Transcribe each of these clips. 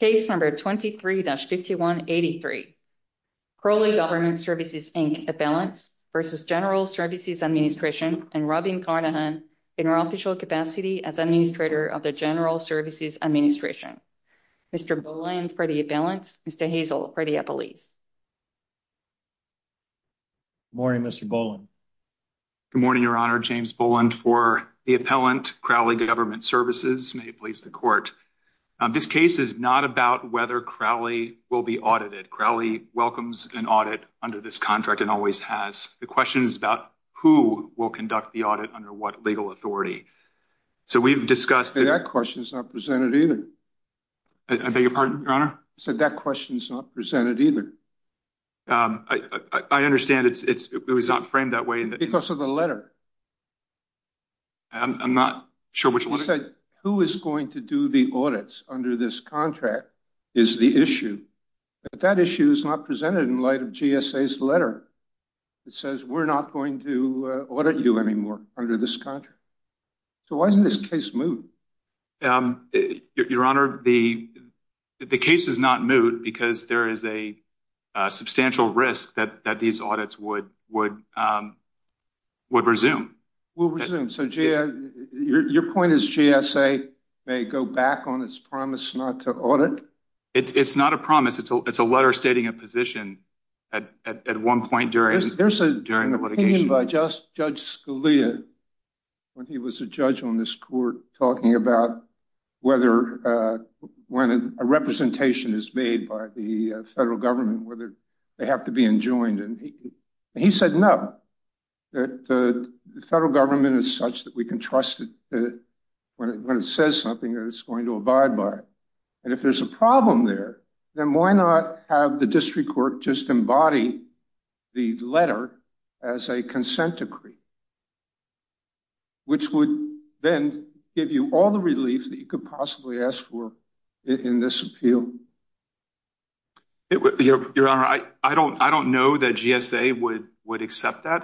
Case number 23-5183, Crowley Government Services, Inc. Appellants v. General Services Administration and Robin Carnahan in her official capacity as Administrator of the General Services Administration. Mr. Boland for the Appellants, Mr. Hazel for the Appellees. Good morning, Mr. Boland. Good morning, Your Honor. James Boland for the Appellant, Crowley Government Services, may it please the Court. This case is not about whether Crowley will be audited. Crowley welcomes an audit under this contract and always has. The question is about who will conduct the audit under what legal authority. So we've discussed... That question is not presented either. I beg your pardon, Your Honor? That question is not presented either. I understand it was not framed that way. Because of the letter. I'm not sure which letter. Who is going to do the audits under this contract is the issue. But that issue is not presented in light of GSA's letter that says we're not going to audit you anymore under this contract. So why isn't this case moot? Your Honor, the case is not moot because there is a substantial risk that these audits would resume. Your point is GSA may go back on its promise not to audit? It's not a promise. It's a letter stating a position at one point during the litigation. There's an opinion by Judge Scalia, when he was a judge on this Court, talking about whether when a representation is made by the federal government, whether they have to be enjoined. And he said no. The federal government is such that we can trust it when it says something that it's going to abide by. And if there's a problem there, then why not have the possibly ask for it in this appeal? Your Honor, I don't know that GSA would accept that.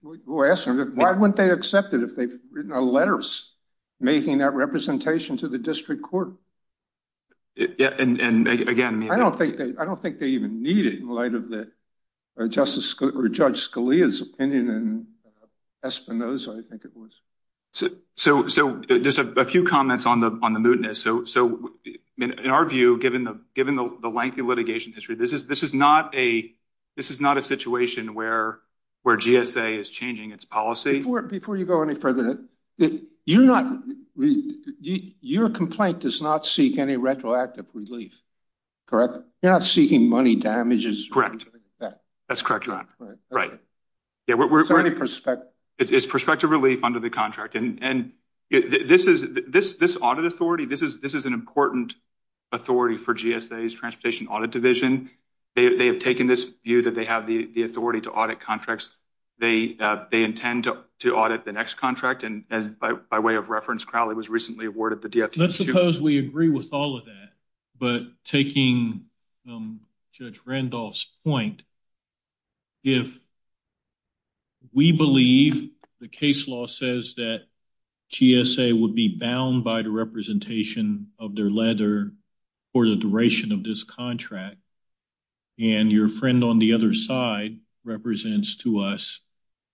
Why wouldn't they accept it if they've written letters making that representation to the district court? I don't think they even need it in light of Judge Scalia's opinion. In our view, given the lengthy litigation history, this is not a situation where GSA is changing its policy. Before you go any further, your complaint does not seek any retroactive relief, correct? You're not seeking money for damages? That's correct, your Honor. It's prospective relief under the contract. This audit authority, this is an important authority for GSA's Transportation Audit Division. They have taken this view that they have the authority to audit contracts. They intend to audit the next contract. By way of reference, Crowley was recently awarded the We agree with all of that. But taking Judge Randolph's point, if we believe the case law says that GSA would be bound by the representation of their letter for the duration of this contract, and your friend on the other side represents to us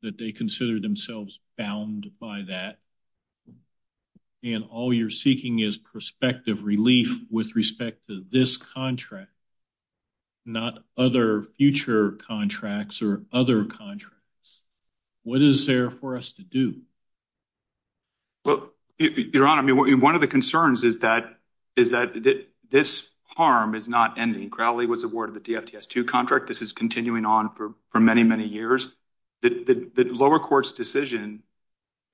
that they consider themselves bound by that, then all you're seeking is prospective relief with respect to this contract, not other future contracts or other contracts. What is there for us to do? Well, your Honor, one of the concerns is that this harm is not ending. Crowley was awarded the DFTS-2 contract. This is continuing on for many, many years. The lower court's decision,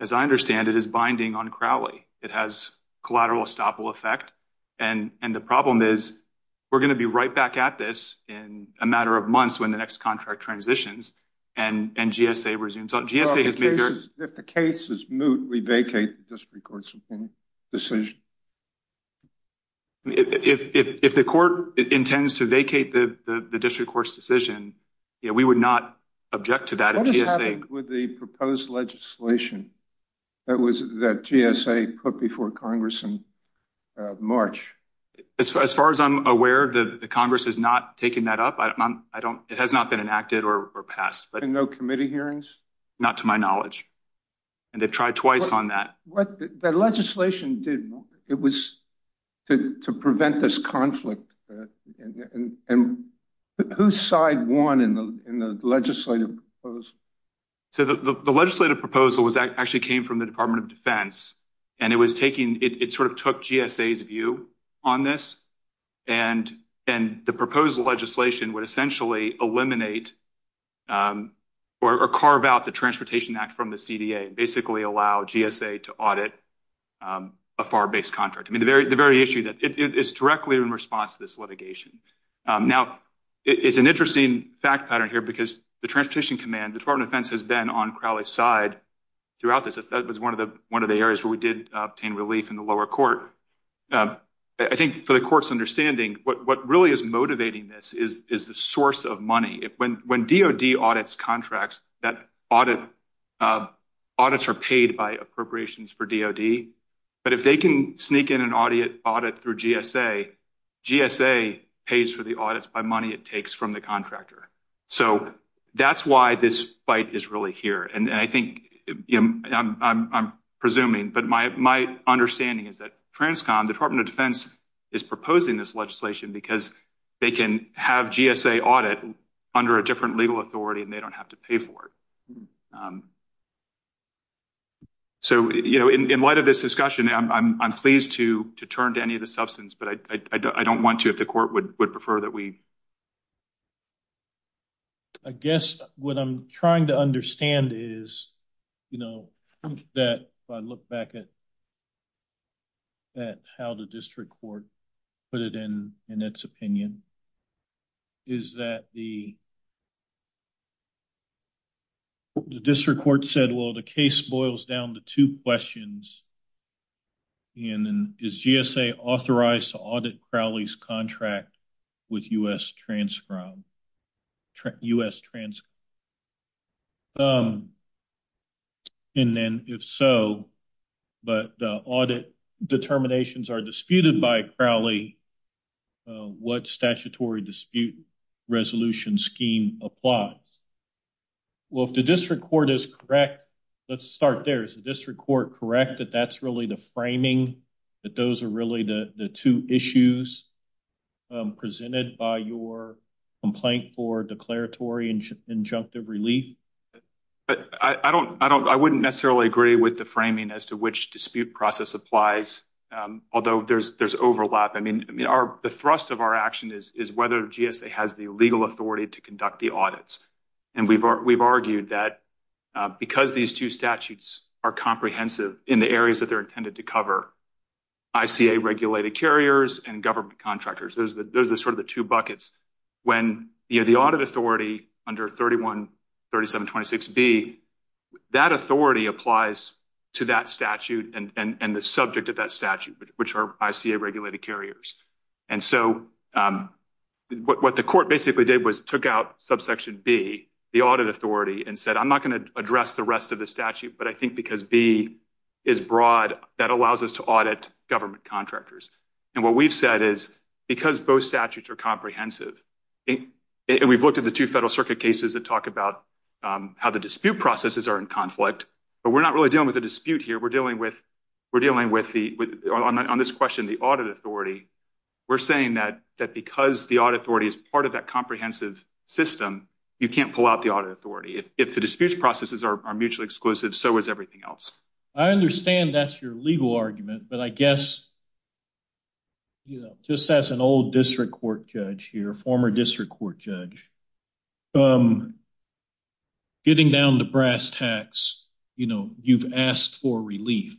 as I understand it, is binding on Crowley. It has collateral estoppel effect. The problem is we're going to be right back at this in a matter of months when the next contract transitions and GSA resumes. If the case is moot, we vacate the district court's decision. If the court intends to vacate the district court's decision, we would not object to that. What has happened with the proposed legislation that GSA put before Congress in March? As far as I'm aware, the Congress has not taken that up. It has not been enacted or passed. No committee hearings? Not to my knowledge, and they've tried twice on that. What the legislation did, it was to prevent this conflict. And who's side won in the legislative proposal? The legislative proposal actually came from the Department of Defense, and it sort of took GSA's view on this. The proposed legislation would essentially eliminate or carve out the Transportation Act from the CDA and basically allow GSA to audit a FAR-based contract. The very issue that is directly in response to this litigation. Now, it's an interesting fact pattern here because the Transportation Command, the Department of Defense has been on Crowley's side throughout this. That was one of the areas where we did obtain relief in the lower court. I think for the court's understanding, what really is motivating this is the source of money. When DOD audits contracts, that audits are paid by appropriations for DOD. But if they can sneak in an audit through GSA, GSA pays for the audits by money it takes from the contractor. So that's why this fight is really here. And I think, I'm presuming, but my understanding is that Transcom, the Department of Defense, is proposing this legislation because they can have GSA audit under a different legal authority and they don't have to pay for it. So in light of this discussion, I'm pleased to turn to any of the substance, but I don't want to if the court would prefer that we... I guess what I'm trying to understand is that if I look back at how the district court put it in its opinion, is that the district court said, well, the case boils down to two questions. And is GSA authorized to audit Crowley's contract with U.S. Transcom? And then if so, but the audit determinations are disputed by Well, if the district court is correct, let's start there. Is the district court correct that that's really the framing, that those are really the two issues presented by your complaint for declaratory and injunctive relief? I wouldn't necessarily agree with the framing as to which dispute process applies, although there's overlap. I mean, the thrust of our action is whether GSA has the legal authority to conduct the audits. And we've argued that because these two statutes are comprehensive in the areas that they're intended to cover, ICA-regulated carriers and government contractors, those are sort of the two buckets. When the audit authority under 313726B, that authority applies to that statute and the subject of that statute, which are ICA-regulated carriers. And so what the court basically did was took out subsection B, the audit authority, and said, I'm not going to address the rest of the statute, but I think because B is broad, that allows us to audit government contractors. And what we've said is, because both statutes are comprehensive, and we've looked at the two Federal Circuit cases that talk about how the dispute processes are in conflict, but we're not really dealing with a dispute here. We're dealing with, on this question, the audit authority. We're saying that because the audit authority is part of that comprehensive system, you can't pull out the audit authority. If the dispute processes are mutually exclusive, so is everything else. I understand that's your legal argument, but I guess just as an old district court judge here, former district court judge, getting down to brass tacks, you know, you've asked for relief.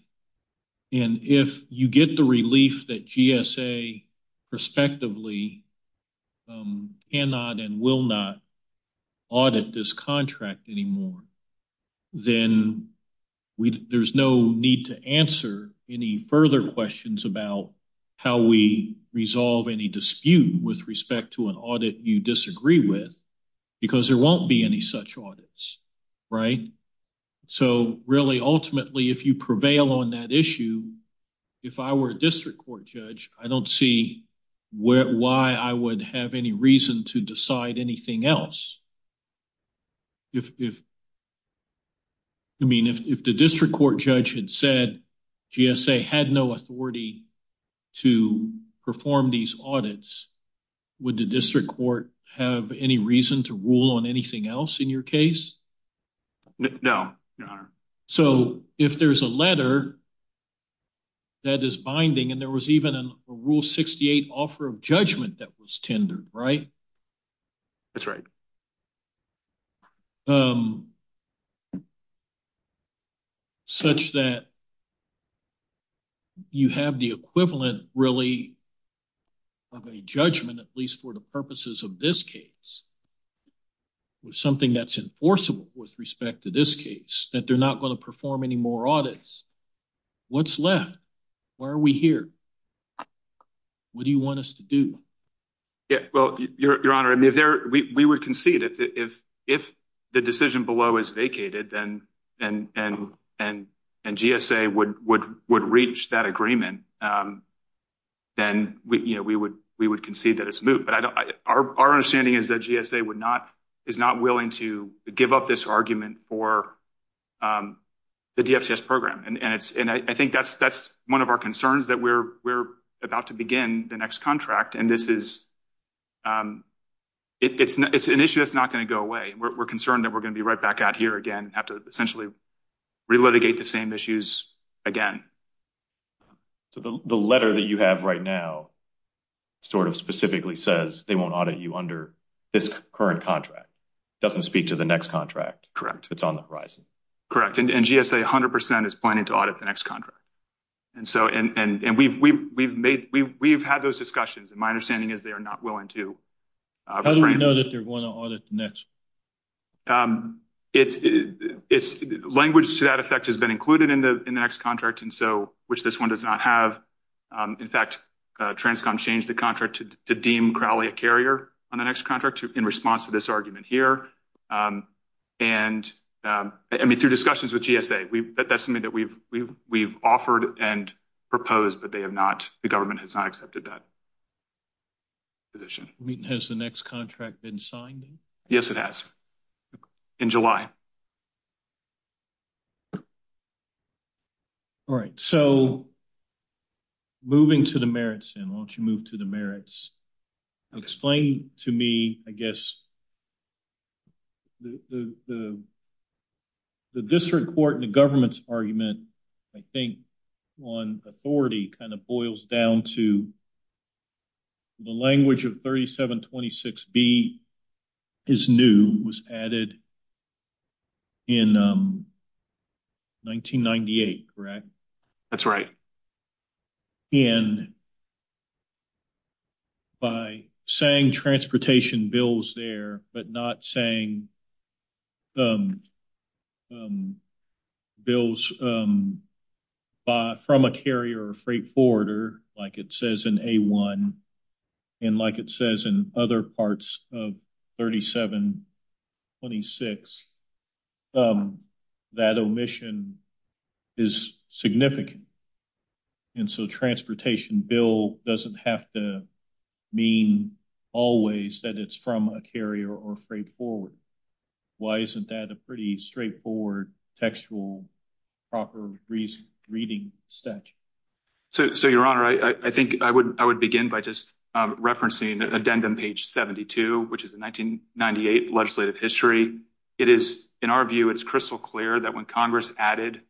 And if you get the relief that GSA prospectively cannot and will not audit this contract anymore, then there's no need to answer any further questions about how we resolve any dispute with respect to an audit you disagree with because there won't be any such audits, right? So, really, ultimately, if you prevail on that issue, if I were a district court judge, I don't see why I would have any reason to decide anything else. I mean, if the district court judge had said GSA had no authority to perform these audits, would the district court have any reason to rule on anything else in your case? No, your honor. So, if there's a letter that is binding, and there was even a Rule 68 offer of judgment that was tendered, right? That's right. Such that you have the equivalent, really, of a judgment, at least for the purposes of this case, with something that's enforceable with respect to this case, that they're not going to perform any more audits. What's left? Why are we here? What do you want us to do? Yeah, well, your honor, we would concede if the decision below is vacated and GSA would reach that agreement, then we would concede that it's moot. But our understanding is that GSA is not willing to give up this argument for the DFCS program. And I think that's one of our concerns, that we're about to begin the next contract, and it's an issue that's not going to go away. We're concerned that we're going to be right back out here again, have to essentially re-litigate the same issues again. So, the letter that you have right now sort of specifically says they won't audit you under this current contract, doesn't speak to the next contract. Correct. It's on the horizon. Correct. And GSA 100% is planning to audit the next contract. And so, we've had those discussions, and my understanding is they are not willing to refrain. How do we know that they're going to audit the next? Language to that effect has been included in the next contract, which this one does not have. In fact, Transcom changed the contract to deem Crowley a carrier on the next contract in response to this argument here. And, I mean, through discussions with GSA, that's something that we've offered and proposed, but the government has not accepted that position. Has the next contract been signed? Yes, it has. In July. All right. So, moving to the merits then, why don't you move to the merits? Explain to me, I guess, the district court and the government's argument, I think, on authority kind of boils down to the language of 3726B is new, was added in 1998, correct? That's right. And by saying transportation bills there, but not saying bills from a carrier or freight forwarder, like it says in A1, and like it says in other parts of 3726, that omission is significant. And so transportation bill doesn't have to mean always that it's from a carrier or freight forward. Why isn't that a pretty straightforward textual proper reading statute? So, your honor, I think I would begin by just referencing addendum page 72, which is the 1998 legislative history. It is, in our view, it's crystal clear that when Congress added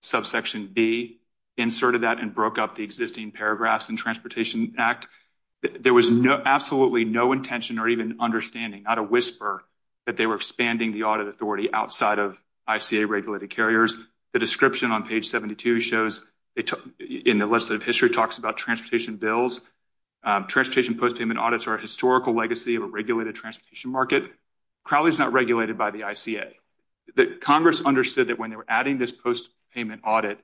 subsection B, inserted that and broke up the existing paragraphs in Transportation Act, there was absolutely no intention or even understanding, not a whisper, that they were expanding the audit authority outside of ICA regulated carriers. The description on page 72 shows, in the list of history, talks about transportation bills. Transportation post payments audits are a historical legacy of a regulated transportation market. Crowley's not regulated by the ICA. Congress understood that when they were adding this post payment audit,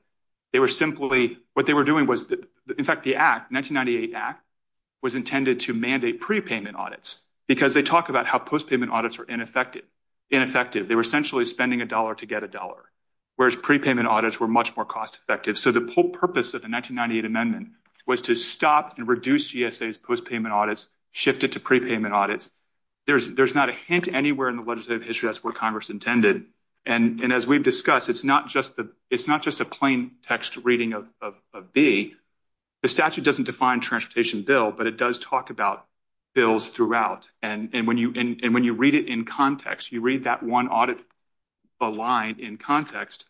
they were simply, what they were doing was, in fact, the act, 1998 act, was intended to mandate prepayment audits because they talk about how post payment audits are ineffective. They were essentially spending a dollar to get a dollar, whereas prepayment audits were much more cost shifted to prepayment audits. There's not a hint anywhere in the legislative history that's what Congress intended, and as we've discussed, it's not just a plain text reading of B. The statute doesn't define transportation bill, but it does talk about bills throughout, and when you read it in context, you read that one audit line in context,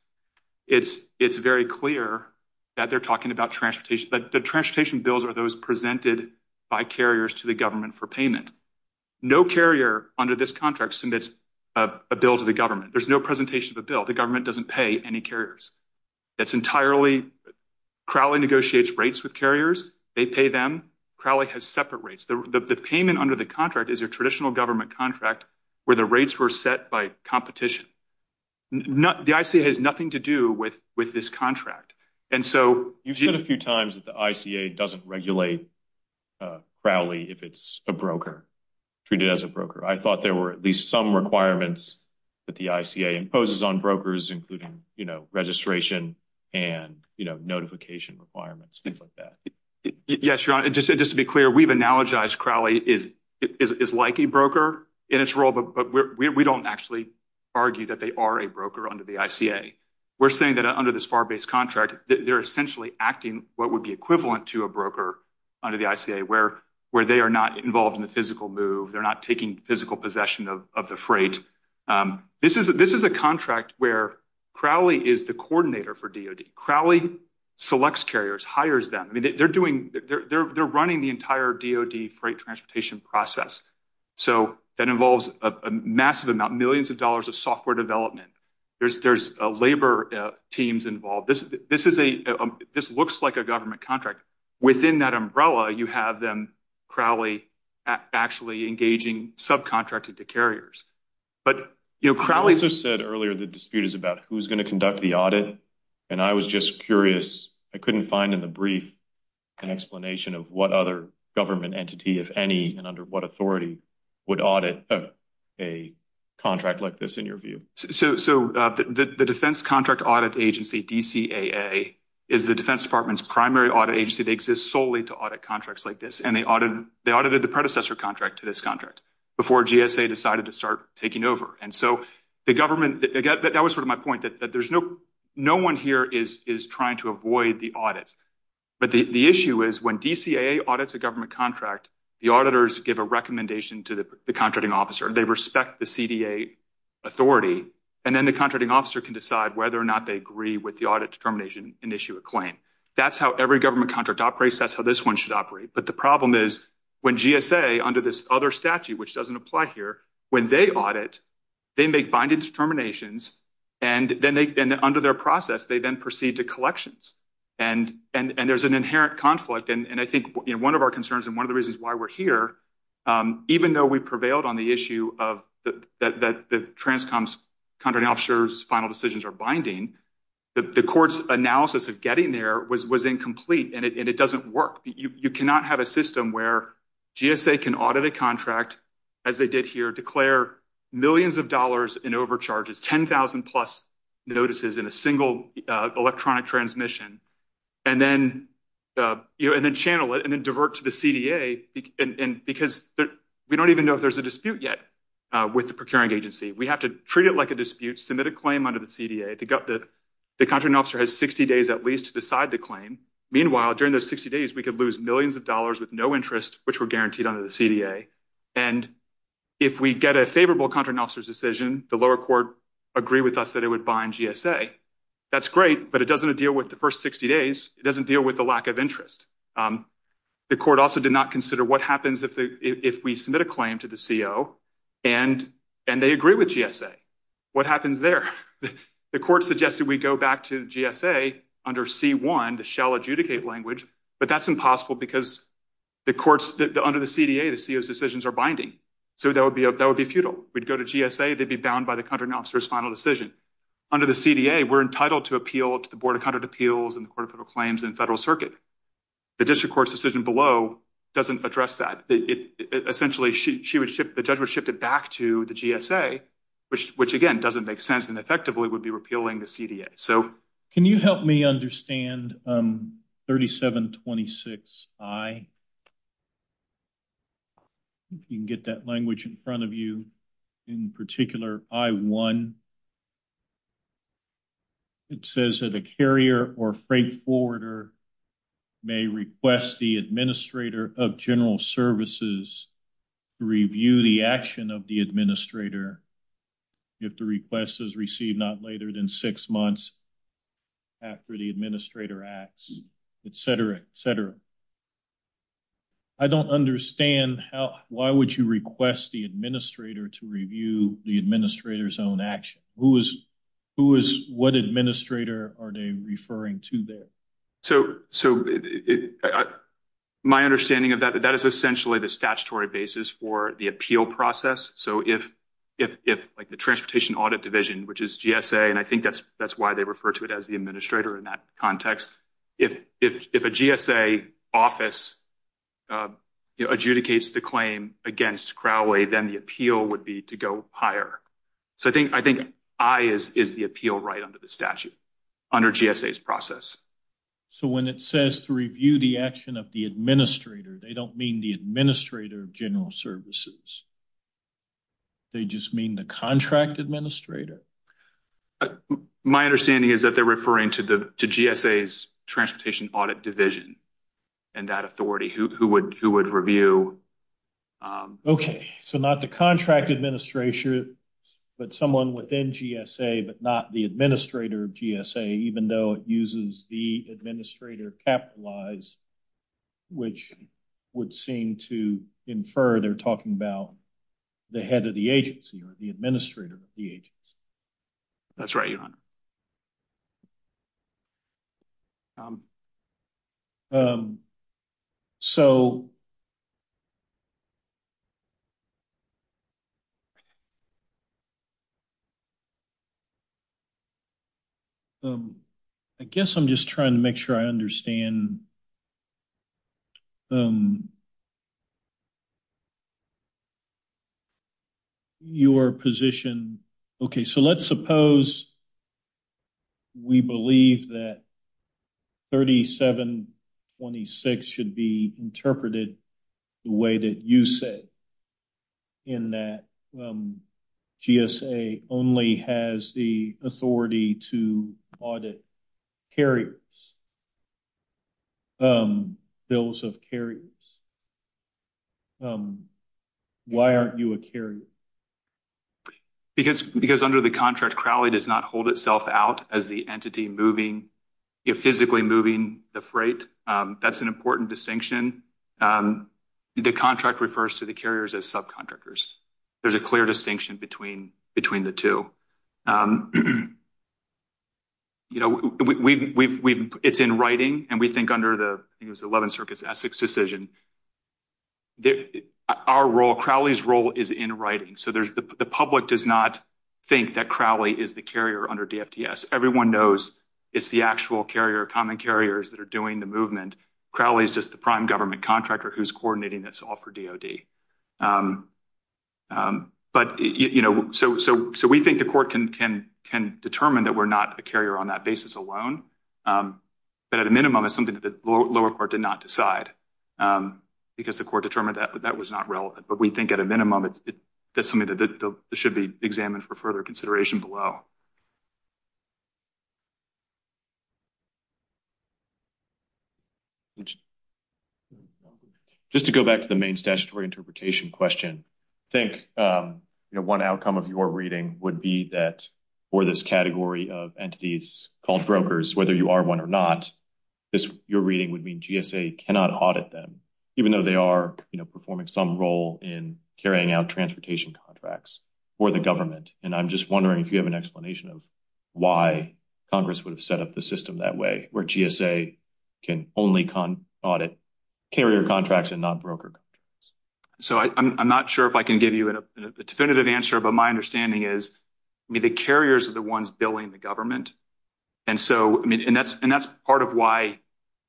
it's very clear that they're talking about transportation, but the transportation bills are those presented by carriers to the government for payment. No carrier under this contract submits a bill to the government. There's no presentation of a bill. The government doesn't pay any carriers. Crowley negotiates rates with carriers. They pay them. Crowley has separate rates. The payment under the contract is a traditional government contract where the rates were set by competition. The ICA has nothing to do with this contract. You've said a few times that the ICA doesn't regulate Crowley if it's a broker, treated as a broker. I thought there were at least some requirements that the ICA imposes on brokers, including registration and notification requirements, things like that. Yes, Your Honor. Just to be clear, we've analogized Crowley is like a broker in its role, but we don't actually argue that they are a broker under the ICA. We're saying that under this FAR-based contract, they're essentially acting what would be equivalent to a broker under the ICA, where they are not involved in the physical move. They're not taking physical possession of the freight. This is a contract where Crowley is the coordinator for DoD. Crowley selects carriers, hires them. They're running the entire DoD freight transportation process. That involves a massive amount, millions of dollars, software development. There's labor teams involved. This looks like a government contract. Within that umbrella, you have them, Crowley, actually engaging subcontracted to carriers. Crowley's... I also said earlier the dispute is about who's going to conduct the audit. I was just curious. I couldn't find in the brief an explanation of what other government entity, if any, and under what authority would audit a contract like this, in your view. The Defense Contract Audit Agency, DCAA, is the Defense Department's primary audit agency. They exist solely to audit contracts like this. They audited the predecessor contract to this contract before GSA decided to start taking over. That was my point, that no one here is trying to avoid the But the issue is when DCAA audits a government contract, the auditors give a recommendation to the contracting officer. They respect the CDA authority. Then the contracting officer can decide whether or not they agree with the audit determination and issue a claim. That's how every government contract operates. That's how this one should operate. But the problem is when GSA, under this other statute, which doesn't apply here, when they audit, they make binding determinations. Under their process, they then proceed to collections. There's an inherent conflict. I think one of our concerns and one of the reasons why we're here, even though we prevailed on the issue that the contracting officer's final decisions are binding, the court's analysis of getting there was incomplete and it doesn't work. You cannot have a system GSA can audit a contract, as they did here, declare millions of dollars in overcharges, 10,000 plus notices in a single electronic transmission, and then channel it and divert to the CDA because we don't even know if there's a dispute yet with the procuring agency. We have to treat it like a dispute, submit a claim under the CDA. The contracting officer has 60 days at least to decide the claim. Meanwhile, during those 60 days, we could lose millions of dollars with no interest, which were guaranteed under the CDA. And if we get a favorable contracting officer's decision, the lower court agreed with us that it would bind GSA. That's great, but it doesn't deal with the first 60 days. It doesn't deal with the lack of interest. The court also did not consider what happens if we submit a claim to the CO and they agree with GSA. What happens there? The court suggested we go back to GSA under C1, the shall adjudicate language, but that's impossible because under the CDA, the CO's decisions are binding. So that would be futile. We'd go to GSA, they'd be bound by the contracting officer's final decision. Under the CDA, we're entitled to appeal to the Board of Contract Appeals and the Court of Federal Claims and the Federal Circuit. The district court's decision below doesn't address that. Essentially, the judge would shift it back to the GSA, which again, doesn't make sense and effectively would repeal the CDA. Can you help me understand 3726I? You can get that language in front of you. In particular, I1. It says that a carrier or freight forwarder may request the administrator of general services to review the action of the administrator if the request is received not later than six months after the administrator acts, et cetera, et cetera. I don't understand why would you request the administrator to review the administrator's own action? Who is, what administrator are they referring to there? So my understanding of that, that is essentially the statutory basis for the appeal process. So if like the Transportation Audit Division, which is GSA, and I think that's why they refer to it as the administrator in that context. If a GSA office adjudicates the claim against Crowley, then the appeal would be to go higher. So I think I is the appeal right under the statute, under GSA's process. So when it says to review the action of the administrator, they don't mean the administrator of general services. They just mean the contract administrator? My understanding is that they're referring to GSA's Transportation Audit Division and that authority. Who would review? Okay, so not the contract administrator, but someone within GSA, but not the administrator of GSA, even though it uses the administrator capitalized, which would seem to infer they're talking about the head of the agency or the administrator of the agency. That's right, Your Honor. So I guess I'm just trying to make sure I understand your position. Okay, so let's suppose we believe that 3726 should be interpreted the way that you say, in that GSA only has the authority to audit carriers, bills of carriers. Why aren't you a carrier? Because under the contract, Crowley does not hold itself out as the entity moving, physically moving the freight. That's an important distinction. The contract refers to the carriers as subcontractors. There's a clear distinction between the two. It's in writing, and we think under the 11th Circuit's Essex decision, our role, Crowley's role is in writing. So the public does not think that Crowley is the carrier under DFDS. Everyone knows it's the actual carrier, common carriers that are doing the movement. Crowley is just the prime government contractor who's coordinating this all for DOD. So we think the court can determine that we're not a carrier on that basis alone, but at a minimum, it's something that the lower court did not decide because the court determined that that was not relevant. But we think at a minimum, that's something that should be examined for further consideration below. Just to go back to the main statutory interpretation question, I think one outcome of your reading would be that for this category of entities called brokers, whether you are one or not, your reading would mean GSA cannot audit them, even though they are performing some role in carrying out transportation contracts for the government. And I'm just wondering if you have an why Congress would have set up the system that way, where GSA can only audit carrier contracts and not broker contracts. So I'm not sure if I can give you a definitive answer, but my understanding is, I mean, the carriers are the ones billing the government. And so, I mean, and that's part of why,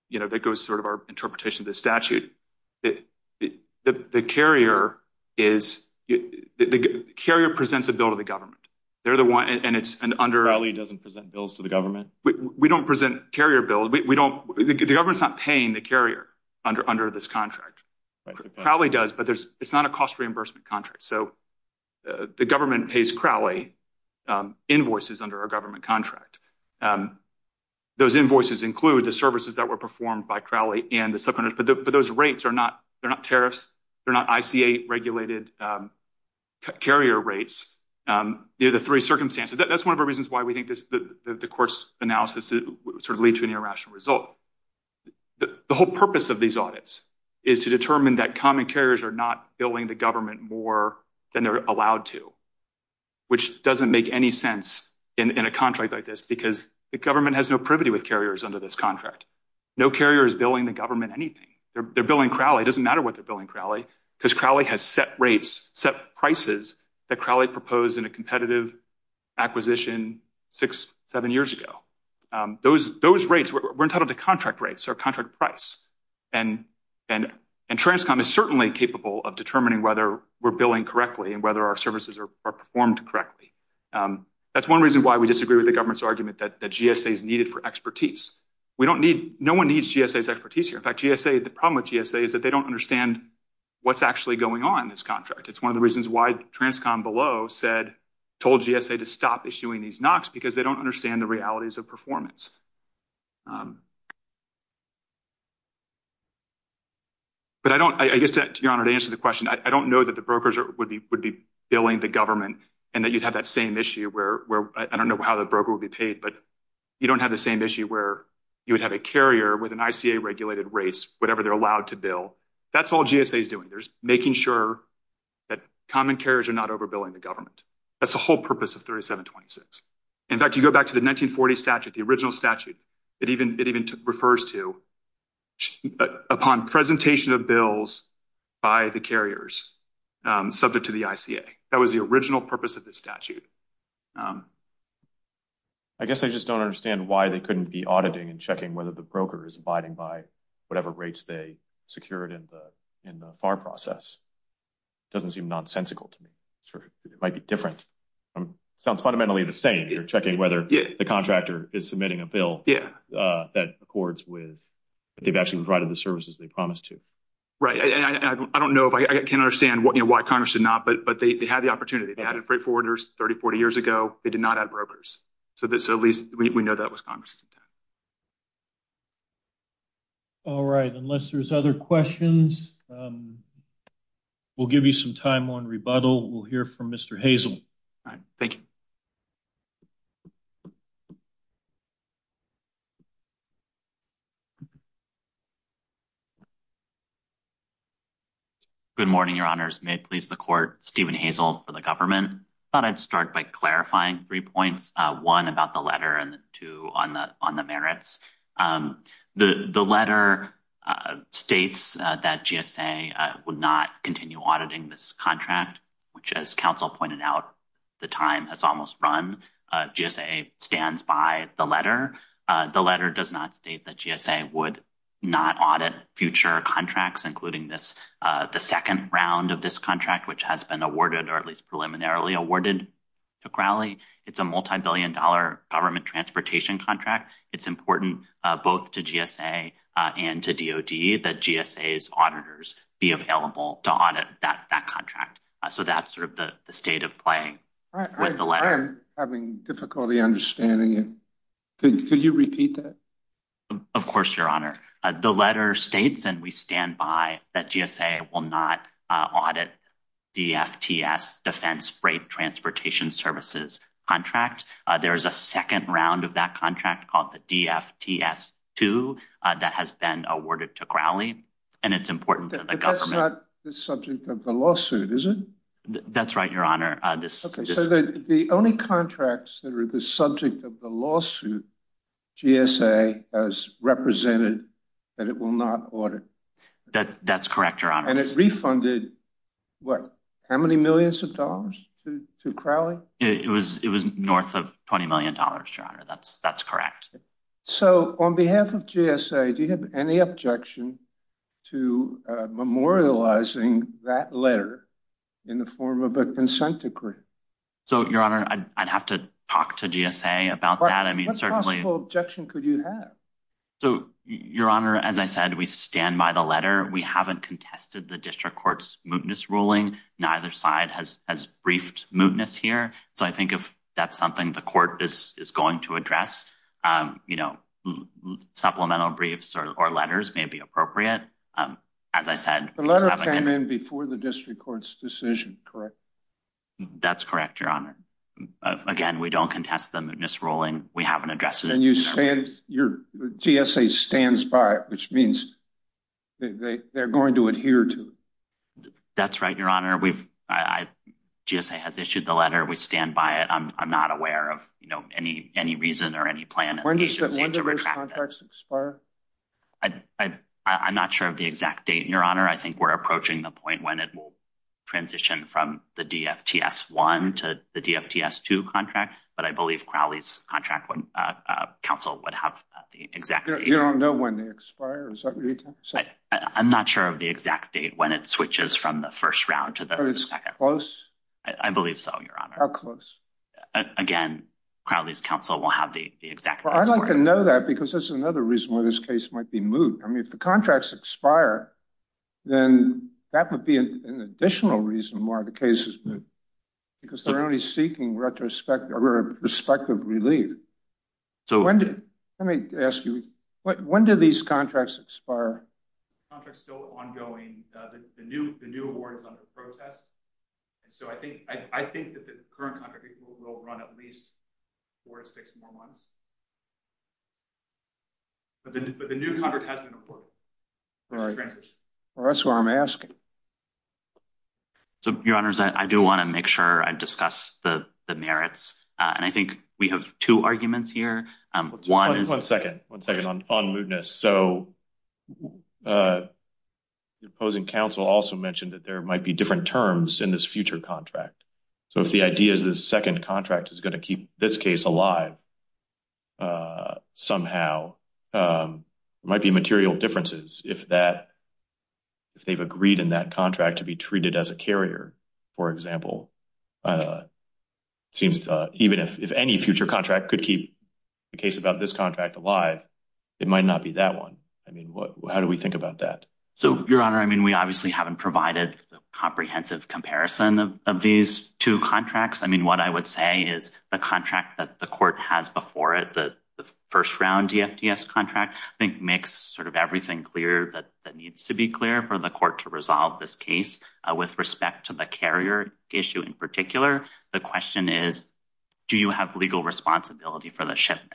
you know, that goes sort of our interpretation of the statute. The carrier presents a bill to the government. Crowley doesn't present bills to the government? We don't present carrier bills. We don't, the government's not paying the carrier under this contract. Crowley does, but it's not a cost reimbursement contract. So the government pays Crowley invoices under our government contract. Those invoices include the services that were performed by Crowley and the carrier rates, the three circumstances. That's one of the reasons why we think the court's analysis sort of lead to an irrational result. The whole purpose of these audits is to determine that common carriers are not billing the government more than they're allowed to, which doesn't make any sense in a contract like this, because the government has no privity with carriers under this contract. No carrier is billing the government anything. They're billing Crowley. It doesn't matter what they're billing Crowley, because Crowley has set rates, set prices that Crowley proposed in a competitive acquisition six, seven years ago. Those rates, we're entitled to contract rates or contract price. And Transcom is certainly capable of determining whether we're billing correctly and whether our services are performed correctly. That's one reason why we disagree with the government's argument that GSA is needed for expertise. We don't need, no one needs GSA's expertise here. In fact, GSA, the problem with what's actually going on in this contract, it's one of the reasons why Transcom below said, told GSA to stop issuing these NOCs because they don't understand the realities of performance. But I don't, I guess to your honor, to answer the question, I don't know that the brokers would be billing the government and that you'd have that same issue where, I don't know how the broker would be paid, but you don't have the same issue where you would have a carrier with an ICA regulated rates, whatever they're allowed to bill. That's all GSA is doing. There's making sure that common carriers are not overbilling the government. That's the whole purpose of 3726. In fact, you go back to the 1940 statute, the original statute, it even, it even refers to upon presentation of bills by the carriers subject to the ICA. That was the original purpose of this statute. I guess I just don't understand why they couldn't be auditing and checking whether the broker is abiding by whatever rates they secured in the FAR process. It doesn't seem nonsensical to me. It might be different. Sounds fundamentally the same. You're checking whether the contractor is submitting a bill that accords with, that they've actually provided the services they promised to. Right. I don't know if I can understand what, you know, why Congress did not, but they had the opportunity. They had freight forwarders 30, 40 years ago. They did not have brokers. So at least we know that was Congress's intent. All right. Unless there's other questions, we'll give you some time on rebuttal. We'll hear from Mr. Hazel. All right. Thank you. Good morning, your honors. May it please the court, Stephen Hazel for the government. Thought I'd start by clarifying three points. One about the letter and two on the merits. The letter states that GSA would not continue auditing this contract, which as counsel pointed out, the time has almost run. GSA stands by the letter. The letter does not state that GSA would not audit future contracts, including this, the second round of this contract, which has been preliminarily awarded to Crowley. It's a multi-billion dollar government transportation contract. It's important both to GSA and to DOD that GSA's auditors be available to audit that contract. So that's sort of the state of play with the letter. I am having difficulty understanding it. Could you repeat that? Of course, your honor. The letter states, and we stand by, that GSA will not audit the DFTS, defense freight transportation services contract. There's a second round of that contract called the DFTS-2 that has been awarded to Crowley, and it's important to the government. That's not the subject of the lawsuit, is it? That's right, your honor. The only contracts that are the subject of the lawsuit, GSA has represented that it will not audit. That's correct, your honor. And it refunded, what, how many millions of dollars to Crowley? It was north of $20 million, your honor. That's correct. So on behalf of GSA, do you have any objection to memorializing that letter in the form of a consent decree? So, your honor, I'd have to talk to GSA about that. What possible objection could you have? So, your honor, as I said, we stand by the letter. We haven't contested the district court's mootness ruling. Neither side has briefed mootness here. So I think if that's something the court is going to address, supplemental briefs or letters may be appropriate. As I said, the letter came in before the district court's decision, correct? That's correct, your honor. Again, we don't contest the mootness ruling. We haven't addressed it. And you said your GSA stands by it, which means they're going to adhere to it. That's right, your honor. We've, GSA has issued the letter. We stand by it. I'm not aware of, you know, any reason or any plan. When do those contracts expire? I'm not sure of the exact date, your honor. I think we're approaching the point when it will transition from the DFTS-1 to the DFTS-2 contract, but I believe Crowley's contract counsel would have the exact date. You don't know when they expire? Is that what you're saying? I'm not sure of the exact date, when it switches from the first round to the second. Close? I believe so, your honor. How close? Again, Crowley's counsel will have the exact date. Well, I'd like to know that because that's another reason why this case might be moot. I mean, contracts expire, then that would be an additional reason why the case is moot, because they're only seeking retrospective relief. Let me ask you, when do these contracts expire? Contracts are still ongoing. The new award is under protest. And so I think that the current contract will run at least four or six more months. But the new contract hasn't been appointed. Right. Well, that's what I'm asking. So, your honors, I do want to make sure I discuss the merits, and I think we have two arguments here. One is... One second, one second on mootness. So, the opposing counsel also mentioned that there might be different terms in this future contract. So, if the idea is the second contract is going to keep this case alive somehow, there might be material differences if they've agreed in that contract to be treated as a carrier. For example, it seems even if any future contract could keep the case about this contract alive, it might not be that one. I mean, how do we think about that? So, your honor, I mean, we obviously haven't provided a comprehensive comparison of these two contracts. I mean, what I would say is the contract that the court has before it, the first round DFDS contract, I think, makes sort of everything clear that needs to be clear for the court to resolve this case. With respect to the carrier issue in particular, the question is, do you have legal responsibility for the shipment?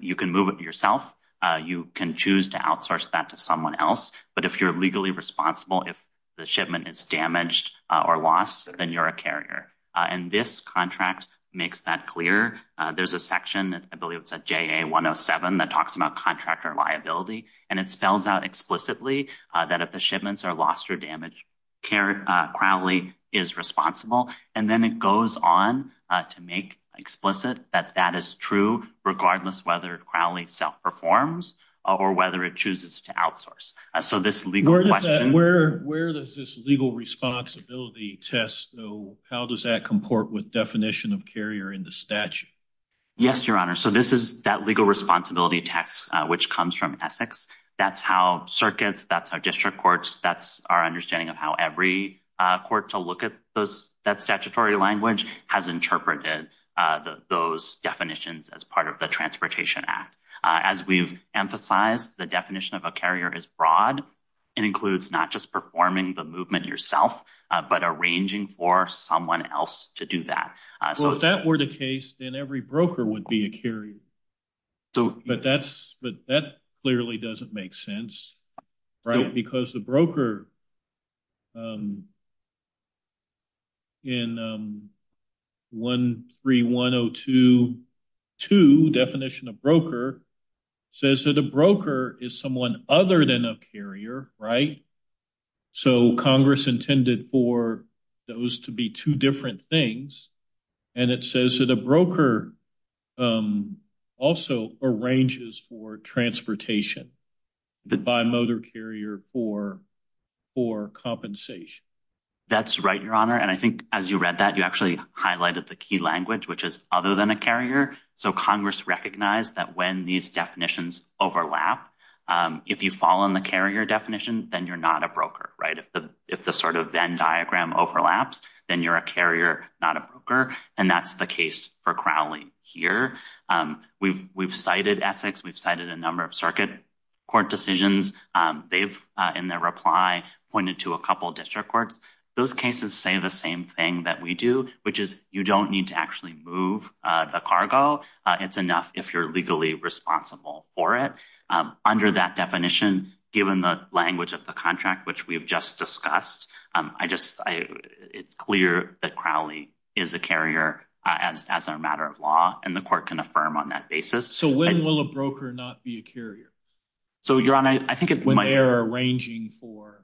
You can move it yourself. You can choose to outsource that to someone else. But if you're legally responsible, if the shipment is damaged or lost, then you're a carrier. And this contract makes that clear. There's a section, I believe it's a JA 107, that talks about contractor liability. And it spells out explicitly that if the shipments are lost or damaged, Crowley is responsible. And then it goes on to make explicit that that is true regardless whether Crowley self-performs or whether it to outsource. So, this legal question... Where does this legal responsibility test go? How does that comport with definition of carrier in the statute? Yes, your honor. So, this is that legal responsibility text, which comes from Essex. That's how circuits, that's how district courts, that's our understanding of how every court to look at that statutory language has interpreted those definitions as part of the Transportation Act. As we've emphasized, the definition of a carrier is broad and includes not just performing the movement yourself, but arranging for someone else to do that. So, if that were the case, then every broker would be a carrier. But that clearly doesn't make sense, right? Because the definition of a broker in 13102.2, definition of broker, says that a broker is someone other than a carrier, right? So, Congress intended for those to be two different things. And it says that a for compensation. That's right, your honor. And I think as you read that, you actually highlighted the key language, which is other than a carrier. So, Congress recognized that when these definitions overlap, if you fall on the carrier definition, then you're not a broker, right? If the sort of Venn diagram overlaps, then you're a carrier, not a broker. And that's the case for Crowley here. We've cited Essex, we've cited a number of circuit court decisions. They've, in their reply, pointed to a couple of district courts. Those cases say the same thing that we do, which is you don't need to actually move the cargo. It's enough if you're legally responsible for it. Under that definition, given the language of the contract, which we've just discussed, it's clear that Crowley is a carrier as a matter of law, and the court can affirm on that basis. So, when will a broker not be a carrier? So, your honor, I think it might- When they're arranging for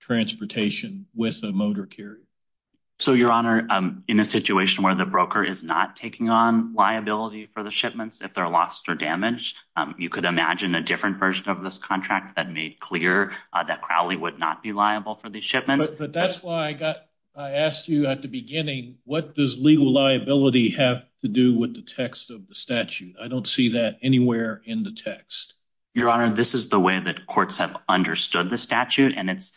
transportation with a motor carrier. So, your honor, in a situation where the broker is not taking on liability for the shipments, if they're lost or damaged, you could imagine a different version of this contract that made clear that Crowley would not be liable for these shipments. But that's why I asked you at the beginning, what does legal liability have to do with the text of statute? I don't see that anywhere in the text. Your honor, this is the way that courts have understood the statute, and it's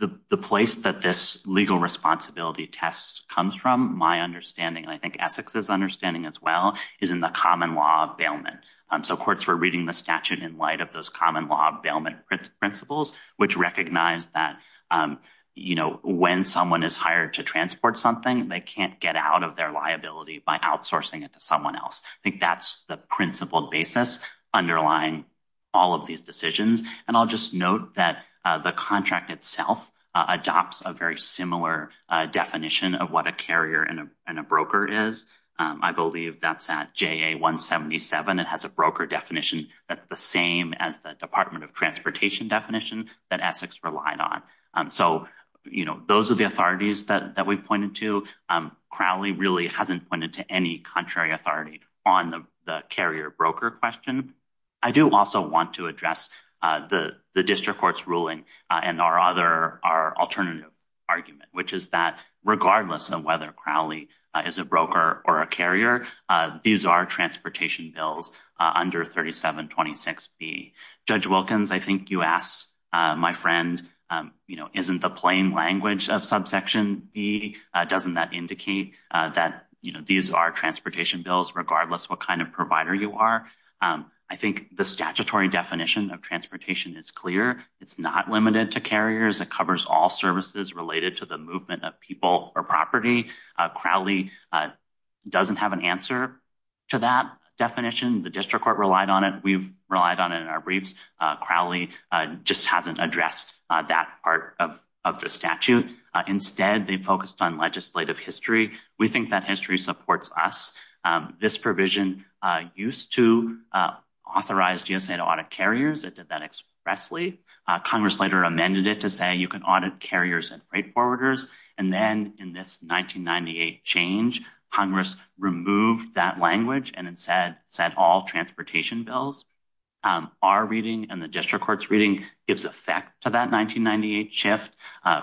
the place that this legal responsibility test comes from, my understanding, and I think Essex's understanding as well, is in the common law of bailment. So, courts were reading the statute in light of those common law of bailment principles, which recognize that when someone is hired to transport something, they can't get out of their liability by outsourcing it to someone else. I think that's the principled basis underlying all of these decisions. And I'll just note that the contract itself adopts a very similar definition of what a carrier and a broker is. I believe that's at JA-177. It has a broker definition that's the same as the Department of Transportation definition that Essex relied on. So, you know, those are the authorities that we've pointed to. Crowley really hasn't pointed to any contrary authority on the carrier-broker question. I do also want to address the district court's ruling and our alternative argument, which is that regardless of whether Crowley is a broker or a carrier, these are transportation bills under 3726B. Judge Wilkins, I think you asked my friend, you know, isn't the plain language of subsection B, doesn't that indicate that, you know, these are transportation bills regardless what kind of provider you are? I think the statutory definition of transportation is clear. It's not limited to carriers. It covers all services related to the movement of people or property. Crowley doesn't have an answer to that definition. The district court relied on it. We've relied on it in our briefs. Crowley just hasn't addressed that part of the statute. Instead, they focused on legislative history. We think that history supports us. This provision used to authorize GSA to audit carriers. It did that expressly. Congress later amended it to say you can audit carriers and freight forwarders. And then in this 1998 change, Congress removed that language and instead said all transportation bills, our reading and the district court's reading gives effect to that 1998 shift.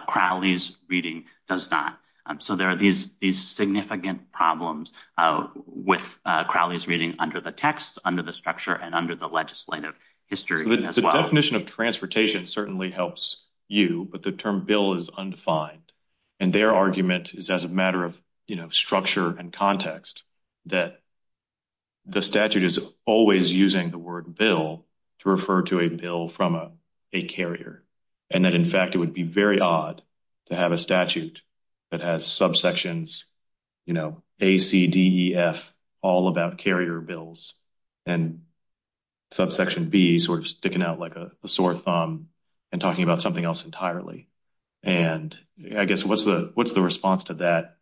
Crowley's reading does not. So there are these significant problems with Crowley's reading under the text, under the structure, and under the legislative history as well. The definition of transportation certainly helps you, but the term bill is undefined. Their argument is as a matter of structure and context that the statute is always using the word bill to refer to a bill from a carrier. In fact, it would be very odd to have a statute that has subsections A, C, D, E, F all about carrier bills and subsection B sticking out like a sore thumb and talking about something else entirely. And I guess what's the response to that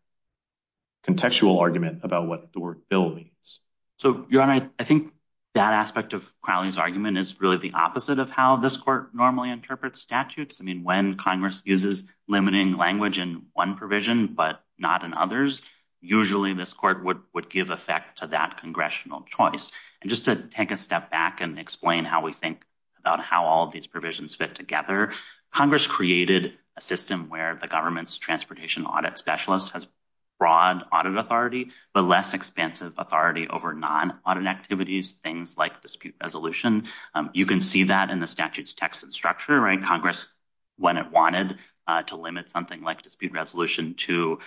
contextual argument about what the word bill means? So, I think that aspect of Crowley's argument is really the opposite of how this court normally interprets statutes. I mean, when Congress uses limiting language in one provision but not in others, usually this court would give effect to that congressional choice. And just to take a step back and explain how we think about how all these provisions fit together, Congress created a system where the government's transportation audit specialist has broad audit authority but less expansive authority over non-audit activities, things like dispute resolution. You can see that in the statute's text and structure, right? Congress, when it wanted to limit something like dispute resolution to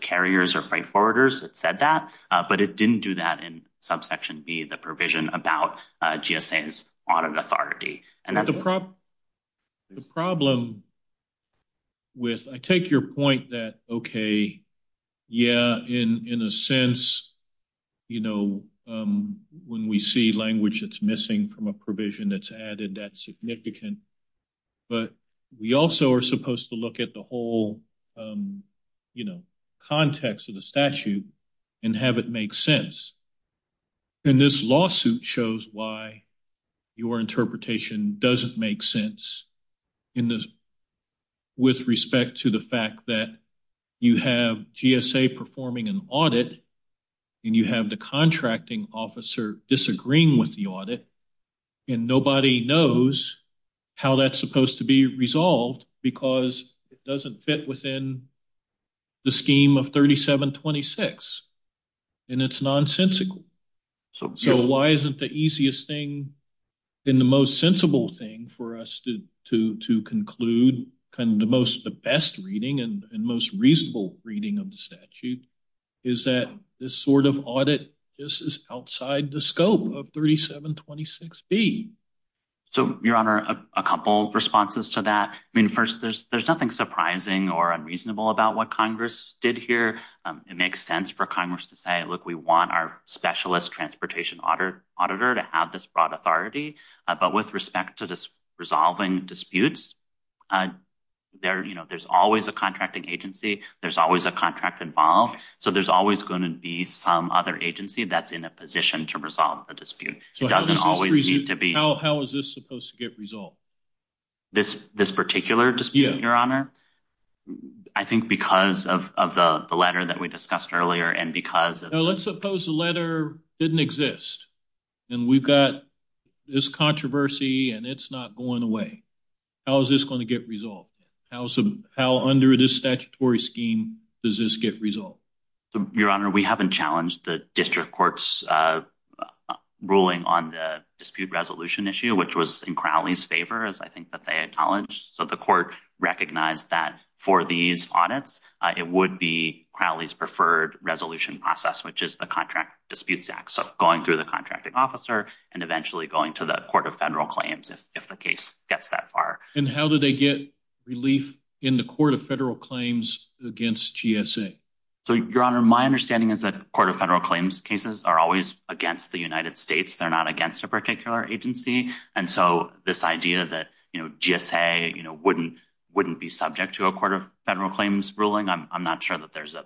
carriers or freight forwarders, it said that, but it didn't do that in subsection B, the provision about GSA's audit authority. The problem with, I take your point that, okay, yeah, in a sense, you know, when we see language that's missing from a provision that's added, that's significant, but we also are supposed to look at the whole, you know, context of the statute and have it make sense. And this lawsuit shows why your interpretation doesn't make sense in this, with respect to the fact that you have GSA performing an audit and you have the contracting officer disagreeing with the audit, and nobody knows how that's supposed to be resolved because it doesn't fit within the scheme of 3726. And it's nonsensical. So why isn't the easiest thing and the most sensible thing for us to conclude, kind of the most, the best reading and most reasonable reading of the statute, is that this sort of audit just is outside the scope of 3726B? So, your honor, a couple responses to that. I mean, first, there's nothing surprising or unreasonable about what Congress did here. It makes sense for Congress to say, look, we want our specialist transportation auditor to have this broad authority. But with respect to resolving disputes, there's always a contracting agency. There's always a contract involved. So there's always going to be some other agency that's in a position to resolve the dispute. It doesn't always need to be... How is this supposed to get resolved? This particular dispute, your honor? I think because of the letter that we discussed earlier, and because... Let's suppose the letter didn't exist and we've got this controversy and it's not going away. How is this going to get resolved? How under this statutory scheme does this get resolved? Your honor, we haven't challenged the district court's ruling on the dispute resolution issue, which was in Crowley's favor, as I think that they acknowledged. So the court recognized that for these audits, it would be Crowley's preferred resolution process, which is the Contract Disputes Act. So going through the contracting officer and eventually going to the Court of Federal Claims if the case gets that far. And how do they get relief in the Court of Federal Claims against GSA? So your honor, my understanding is that Court of Federal Claims cases are always against the United States. They're not against a particular agency. And so this idea that GSA wouldn't be subject to a Court of Federal Claims ruling, I'm not sure that there's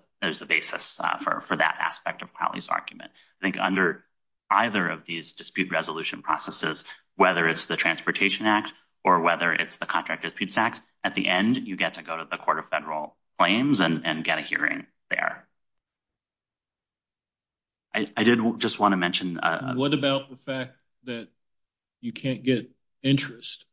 a basis for that aspect of Crowley's argument. I think under either of these dispute resolution processes, whether it's the Transportation Act or whether it's the Contract Disputes Act, at the end, you get to go to the Court of Federal Claims and get a hearing there. I did just want to mention... What about the fact that you can't get interest?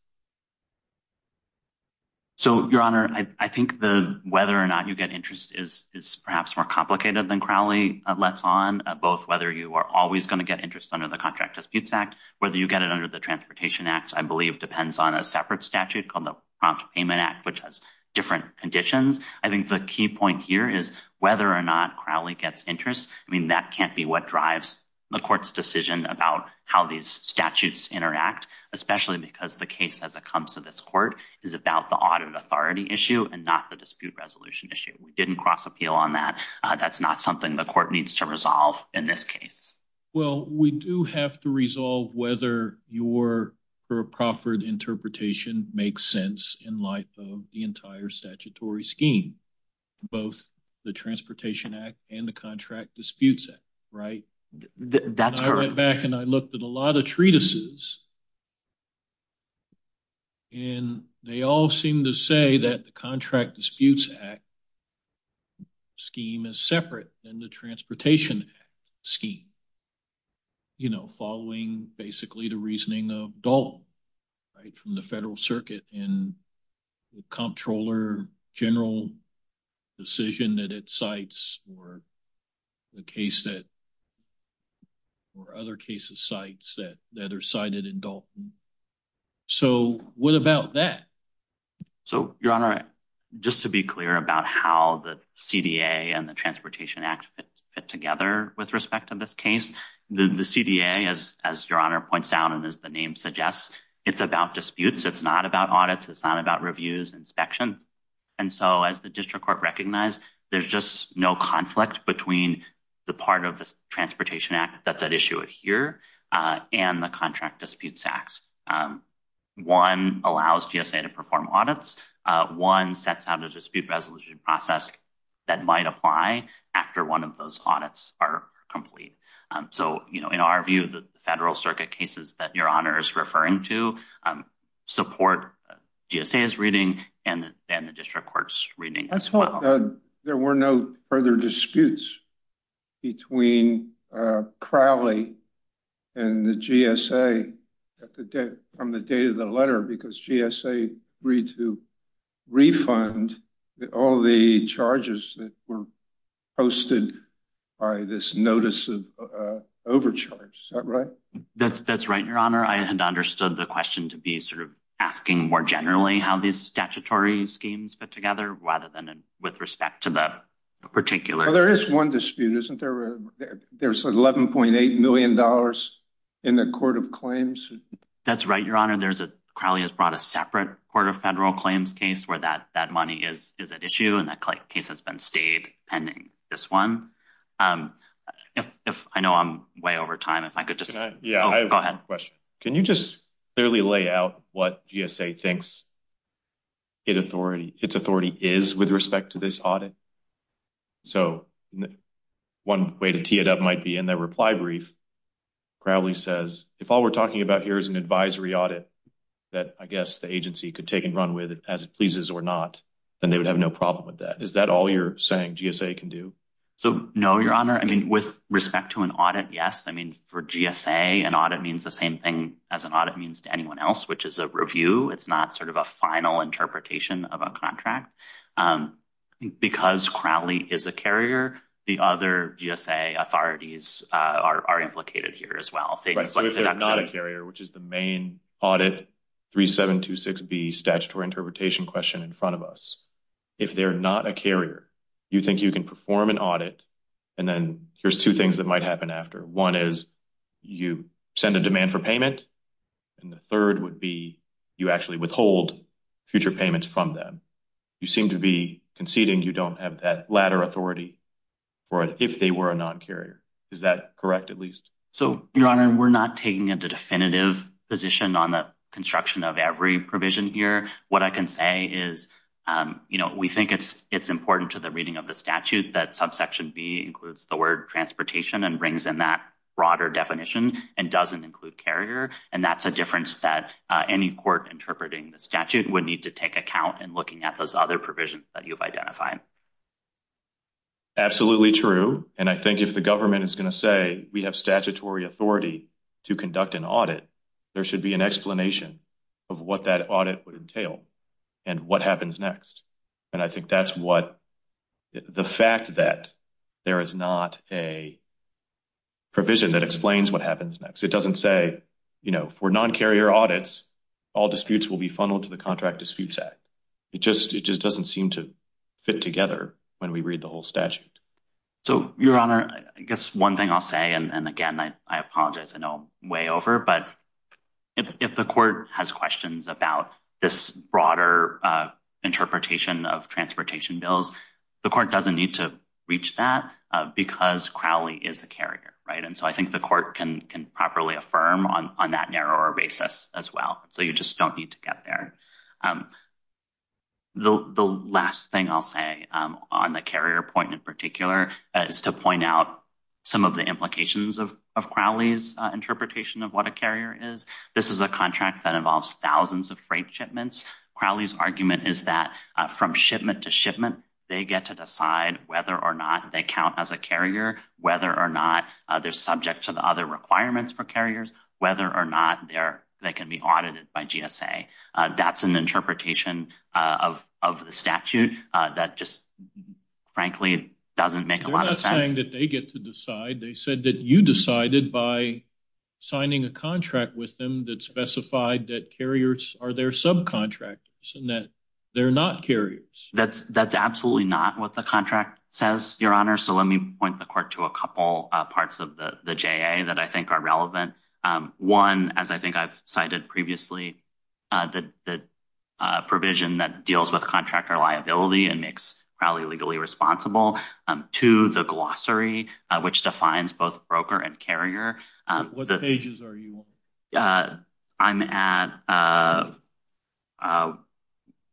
So your honor, I think the whether or not you get interest is perhaps more complicated than Crowley lets on, both whether you are always going to get interest under the Contract Disputes Act, whether you get it under the Transportation Act, I believe depends on a separate statute called the Prompt Payment Act, which has different conditions. I think the key point here is whether or not Crowley gets interest. I mean, that can't be what drives the Court's decision about how these statutes interact, especially because the case as it comes to this Court is about the audit authority issue and not the dispute resolution issue. We didn't cross appeal on that. That's not something the Court needs to resolve in this case. Well, we do have to resolve whether your for a proffered interpretation makes sense in light of the entire statutory scheme. Both the Transportation Act and the Contract Disputes Act, right? That's correct. I went back and I looked at a lot of treatises and they all seem to say that the Contract Disputes Act scheme is separate than the Transportation Act scheme, you know, following basically the reasoning of Dalton, right, from the Federal Circuit and the Comptroller General decision that it cites or the case that or other cases cites that are cited in Dalton. So, what about that? So, Your Honor, just to be clear about how the CDA and the Transportation Act fit together with respect to this case, the CDA, as Your Honor points out and as the name suggests, it's about disputes. It's not about audits. It's not about reviews, inspections. And so, as the District Court recognized, there's just no conflict between the part of the Transportation Act that's at issue here and the Contract Disputes Act. One allows GSA to perform audits. One sets out a resolution process that might apply after one of those audits are complete. So, you know, in our view, the Federal Circuit cases that Your Honor is referring to support GSA's reading and the District Court's reading as well. There were no further disputes between Crowley and the GSA at the day from the date of the letter because GSA agreed to refund all the charges that were posted by this notice of overcharge. Is that right? That's right, Your Honor. I had understood the question to be sort of asking more generally how these statutory schemes fit together rather than with respect to the particular. Well, there is one dispute, isn't there? There's $11.8 million in the Court of Claims. That's right, Your Honor. Crowley has brought a separate Court of Federal Claims case where that money is at issue and that case has been stayed pending this one. If I know I'm way over time, if I could just... Yeah, I have a question. Can you just clearly lay out what GSA thinks its authority is with respect to this audit? So one way to tee it up might be in their reply brief, Crowley says, if all we're talking about here is an advisory audit that I guess the agency could take and run with as it pleases or not, then they would have no problem with that. Is that all you're saying GSA can do? So no, Your Honor. I mean, with respect to an audit, yes. I mean, for GSA, an audit means the same thing as an audit means to anyone else, which is a review. It's not sort a final interpretation of a contract. Because Crowley is a carrier, the other GSA authorities are implicated here as well. So if they're not a carrier, which is the main audit 3726B statutory interpretation question in front of us, if they're not a carrier, you think you can perform an audit and then here's two things that might happen after. One is you send a demand for payment and the third would be you actually withhold future payments from them. You seem to be conceding you don't have that latter authority for it if they were a non-carrier. Is that correct, at least? So, Your Honor, we're not taking a definitive position on the construction of every provision here. What I can say is, you know, we think it's important to the reading of the statute that subsection B includes the word transportation and brings in that broader definition and doesn't include carrier. And that's a difference that any court interpreting the statute would need to take account in looking at those other provisions that you've identified. Absolutely true. And I think if the government is going to say we have statutory authority to conduct an audit, there should be an explanation of what that audit would entail and what happens next. And I think that's what the fact that there is not a provision that explains what happens next. It doesn't say, you know, for non-carrier audits, all disputes will be funneled to the Contract Disputes Act. It just doesn't seem to fit together when we read the whole statute. So, Your Honor, I guess one thing I'll say, and again, I apologize, I know I'm way over, but if the court has questions about this broader interpretation of transportation bills, the court doesn't need to reach that because Crowley is a carrier, right? And so I think the court can properly affirm on that narrower basis as well. So you just don't need to get there. The last thing I'll say on the carrier point in particular is to point out some of the implications of Crowley's interpretation of what a carrier is. This is a contract that involves thousands of freight shipments. Crowley's argument is that from shipment to shipment, they get to decide whether or not they count as a carrier, whether or not they're subject to the other requirements for carriers, whether or not they can be audited by GSA. That's an interpretation of the statute that just, frankly, doesn't make a lot of sense. They're not saying that they get to decide. They said that you decided by signing a contract with them that specified that carriers are their subcontractors and that they're not carriers. That's absolutely not what the contract says, Your Honor. So let me point the court to a couple parts of the JA that I think are relevant. One, as I think I've cited previously, the provision that deals with contractor liability and makes Crowley legally responsible. Two, the glossary, which defines both broker and carrier. What pages are you on? I'm at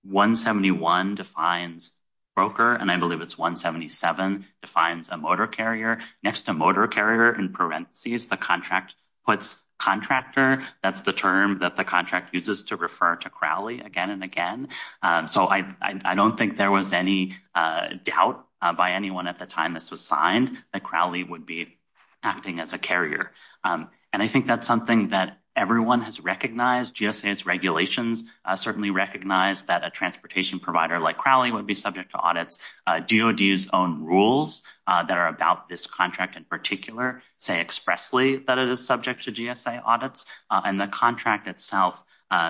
171 defines broker, and I believe it's 177 defines a motor carrier. Next to motor carrier in parentheses, the contract puts contractor. That's the term that the contract uses to refer to Crowley again and again. So I don't think there was any doubt by anyone at the time this was signed that Crowley would be acting as a carrier, and I think that's something that everyone has recognized. GSA's regulations certainly recognize that a transportation provider like Crowley would be subject to audits. DOD's own rules that are about this contract in particular say expressly that it is subject to GSA audits, and the contract itself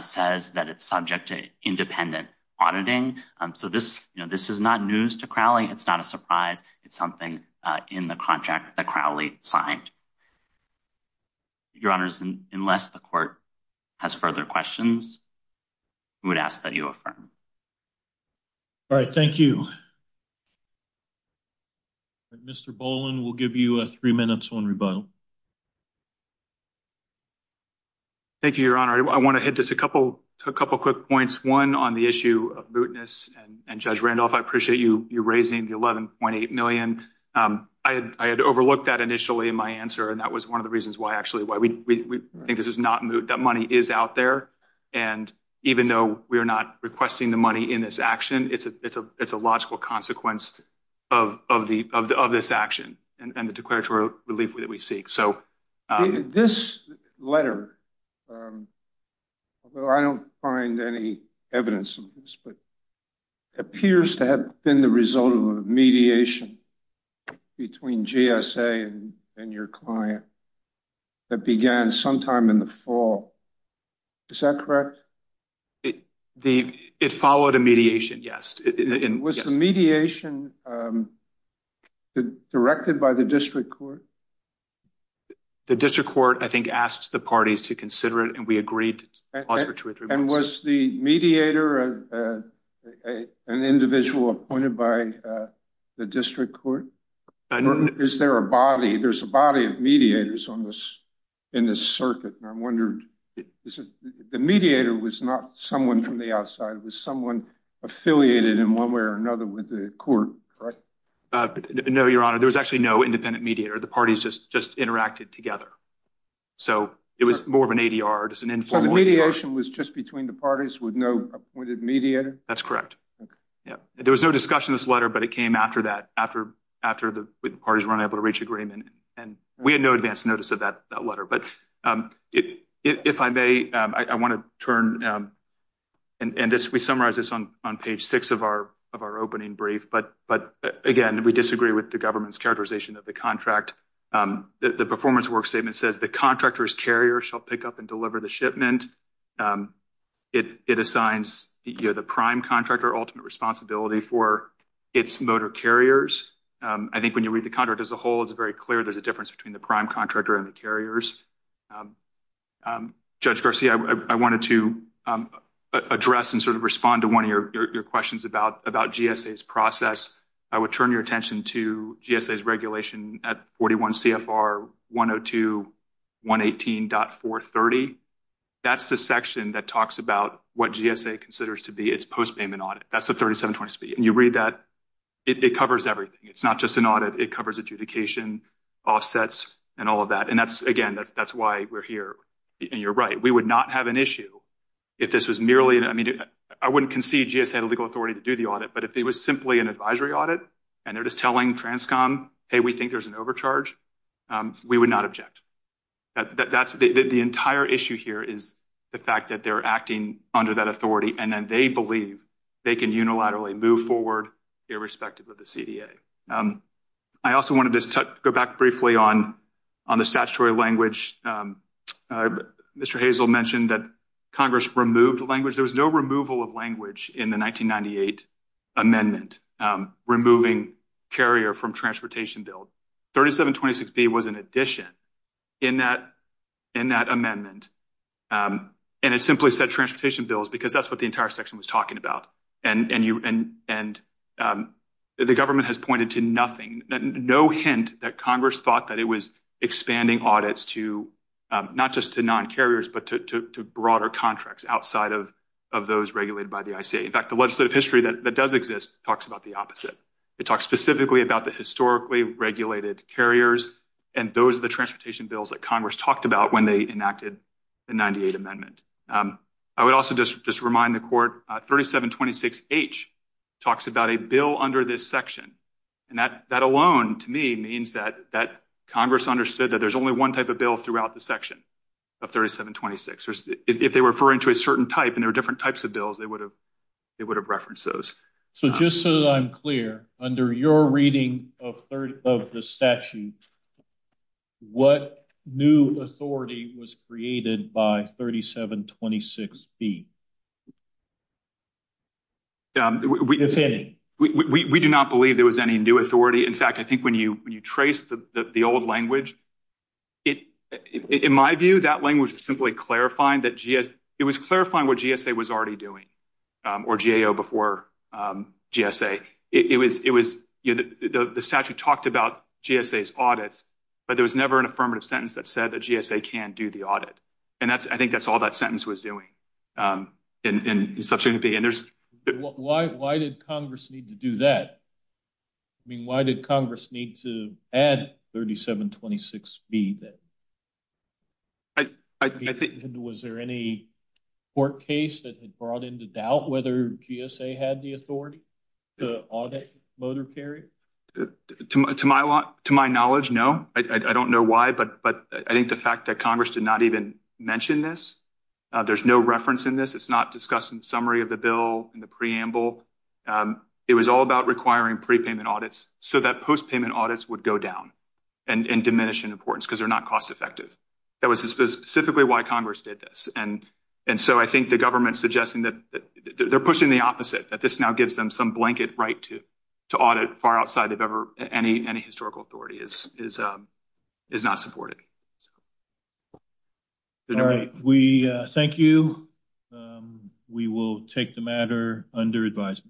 says that it's subject to independent auditing. So this is not news to Crowley. It's not a surprise. It's something in the contract that Crowley signed. Your Honors, unless the court has further questions, I would ask that you affirm. All right. Thank you. Thank you, Your Honor. I want to hit just a couple quick points. One on the issue of mootness, and Judge Randolph, I appreciate you raising the $11.8 million. I had overlooked that initially in my answer, and that was one of the reasons why actually why we think this is not moot. That money is out there, and even though we are not requesting the money in this action, it's a logical consequence of this action and the declaratory relief that we seek. This letter, although I don't find any evidence of this, but it appears to have been the result of a mediation between GSA and your client that began sometime in the fall. Is that correct? It followed a mediation, yes. Was the mediation directed by the district court? The district court, I think, asked the parties to consider it, and we agreed to pause for two or three minutes. And was the mediator an individual appointed by the district court? Is there a body? There's a body of mediators in this circuit, and I'm wondering, the mediator was not someone from the outside. It was someone affiliated in one way or another with the court, correct? No, Your Honor. There was actually no independent mediator. The parties just interacted together. So it was more of an ADR. So the mediation was just between the parties with no appointed mediator? That's correct. There was no discussion of this letter, but it came after that, after the parties were unable to reach agreement, and we had no advance notice of that letter. But if I may, I want to turn, and we summarize this on page six of our opening brief, but again, we disagree with the government's characterization of the contract. The performance work statement says the contractor's carrier shall pick up and deliver the shipment. It assigns the prime contractor ultimate responsibility for its motor carriers. I think when you read the contract as a whole, it's very clear there's a difference between the prime contractor and the carriers. Judge Garcia, I wanted to address and sort of respond to one of your questions about GSA's process. I would turn your attention to GSA's regulation at 41 CFR 102.118.430. That's the section that talks about what GSA considers to be its post-payment audit. That's the 3720 speed, and you read that. It covers everything. It's not just an audit. It covers adjudication, offsets, and all of that, and again, that's why we're here, and you're right. We would not have an issue if this was merely, I mean, I wouldn't concede GSA had legal authority to do the audit, but if it was simply an advisory audit and they're just telling Transcom, hey, we think there's an overcharge, we would not object. That's the entire issue here is the fact that they're acting under that authority, and then they believe they can unilaterally move forward irrespective of the CDA. I also wanted to go back briefly on the statutory language. Mr. Hazel mentioned that Congress removed language. There was no removal of language in the 1998 amendment removing carrier from transportation bill. 3726B was an addition in that amendment, and it simply said transportation bills because that's what the entire section was talking about, and the government has pointed to nothing, no hint that Congress thought that it was expanding audits to not just to non-carriers, but to broader contracts outside of those regulated by the ICA. In fact, the legislative history that does exist talks about the opposite. It talks specifically about the historically regulated carriers, and those are the transportation bills that Congress talked about when they enacted the 98 amendment. I would also just remind the court 3726H talks about a bill under this section, and that alone to me means that Congress understood that there's only one type of bill throughout the section of 3726. If they were referring to a certain type and there are different types of bills, they would have referenced those. So just so that I'm clear, under your reading of the statute, what new authority was created by 3726B? We do not believe there was any new authority. In fact, I think when you trace the old language, in my view, that language was simply clarifying what GSA was already doing, or GAO before GSA. The statute talked about GSA's audits, but there was never an affirmative sentence that said that GSA can do the audit, and I think that's all that sentence was doing. Why did Congress need to do that? I mean, why did Congress need to add 3726B? I think was there any court case that had brought into doubt whether GSA had the authority to audit motor carrier? To my knowledge, no. I don't know why, but I think the fact that Congress did not even mention this, there's no reference in this. It's not discussed in the summary of the bill and the preamble. It was all about requiring prepayment audits so that postpayment audits would go down and diminish in importance because they're not cost effective. That was specifically why Congress did this, and so I think the government's suggesting that they're pushing the opposite, that this now gives them some blanket right to audit far outside of any historical authority is not supported. All right. Thank you. We will take the matter under advise.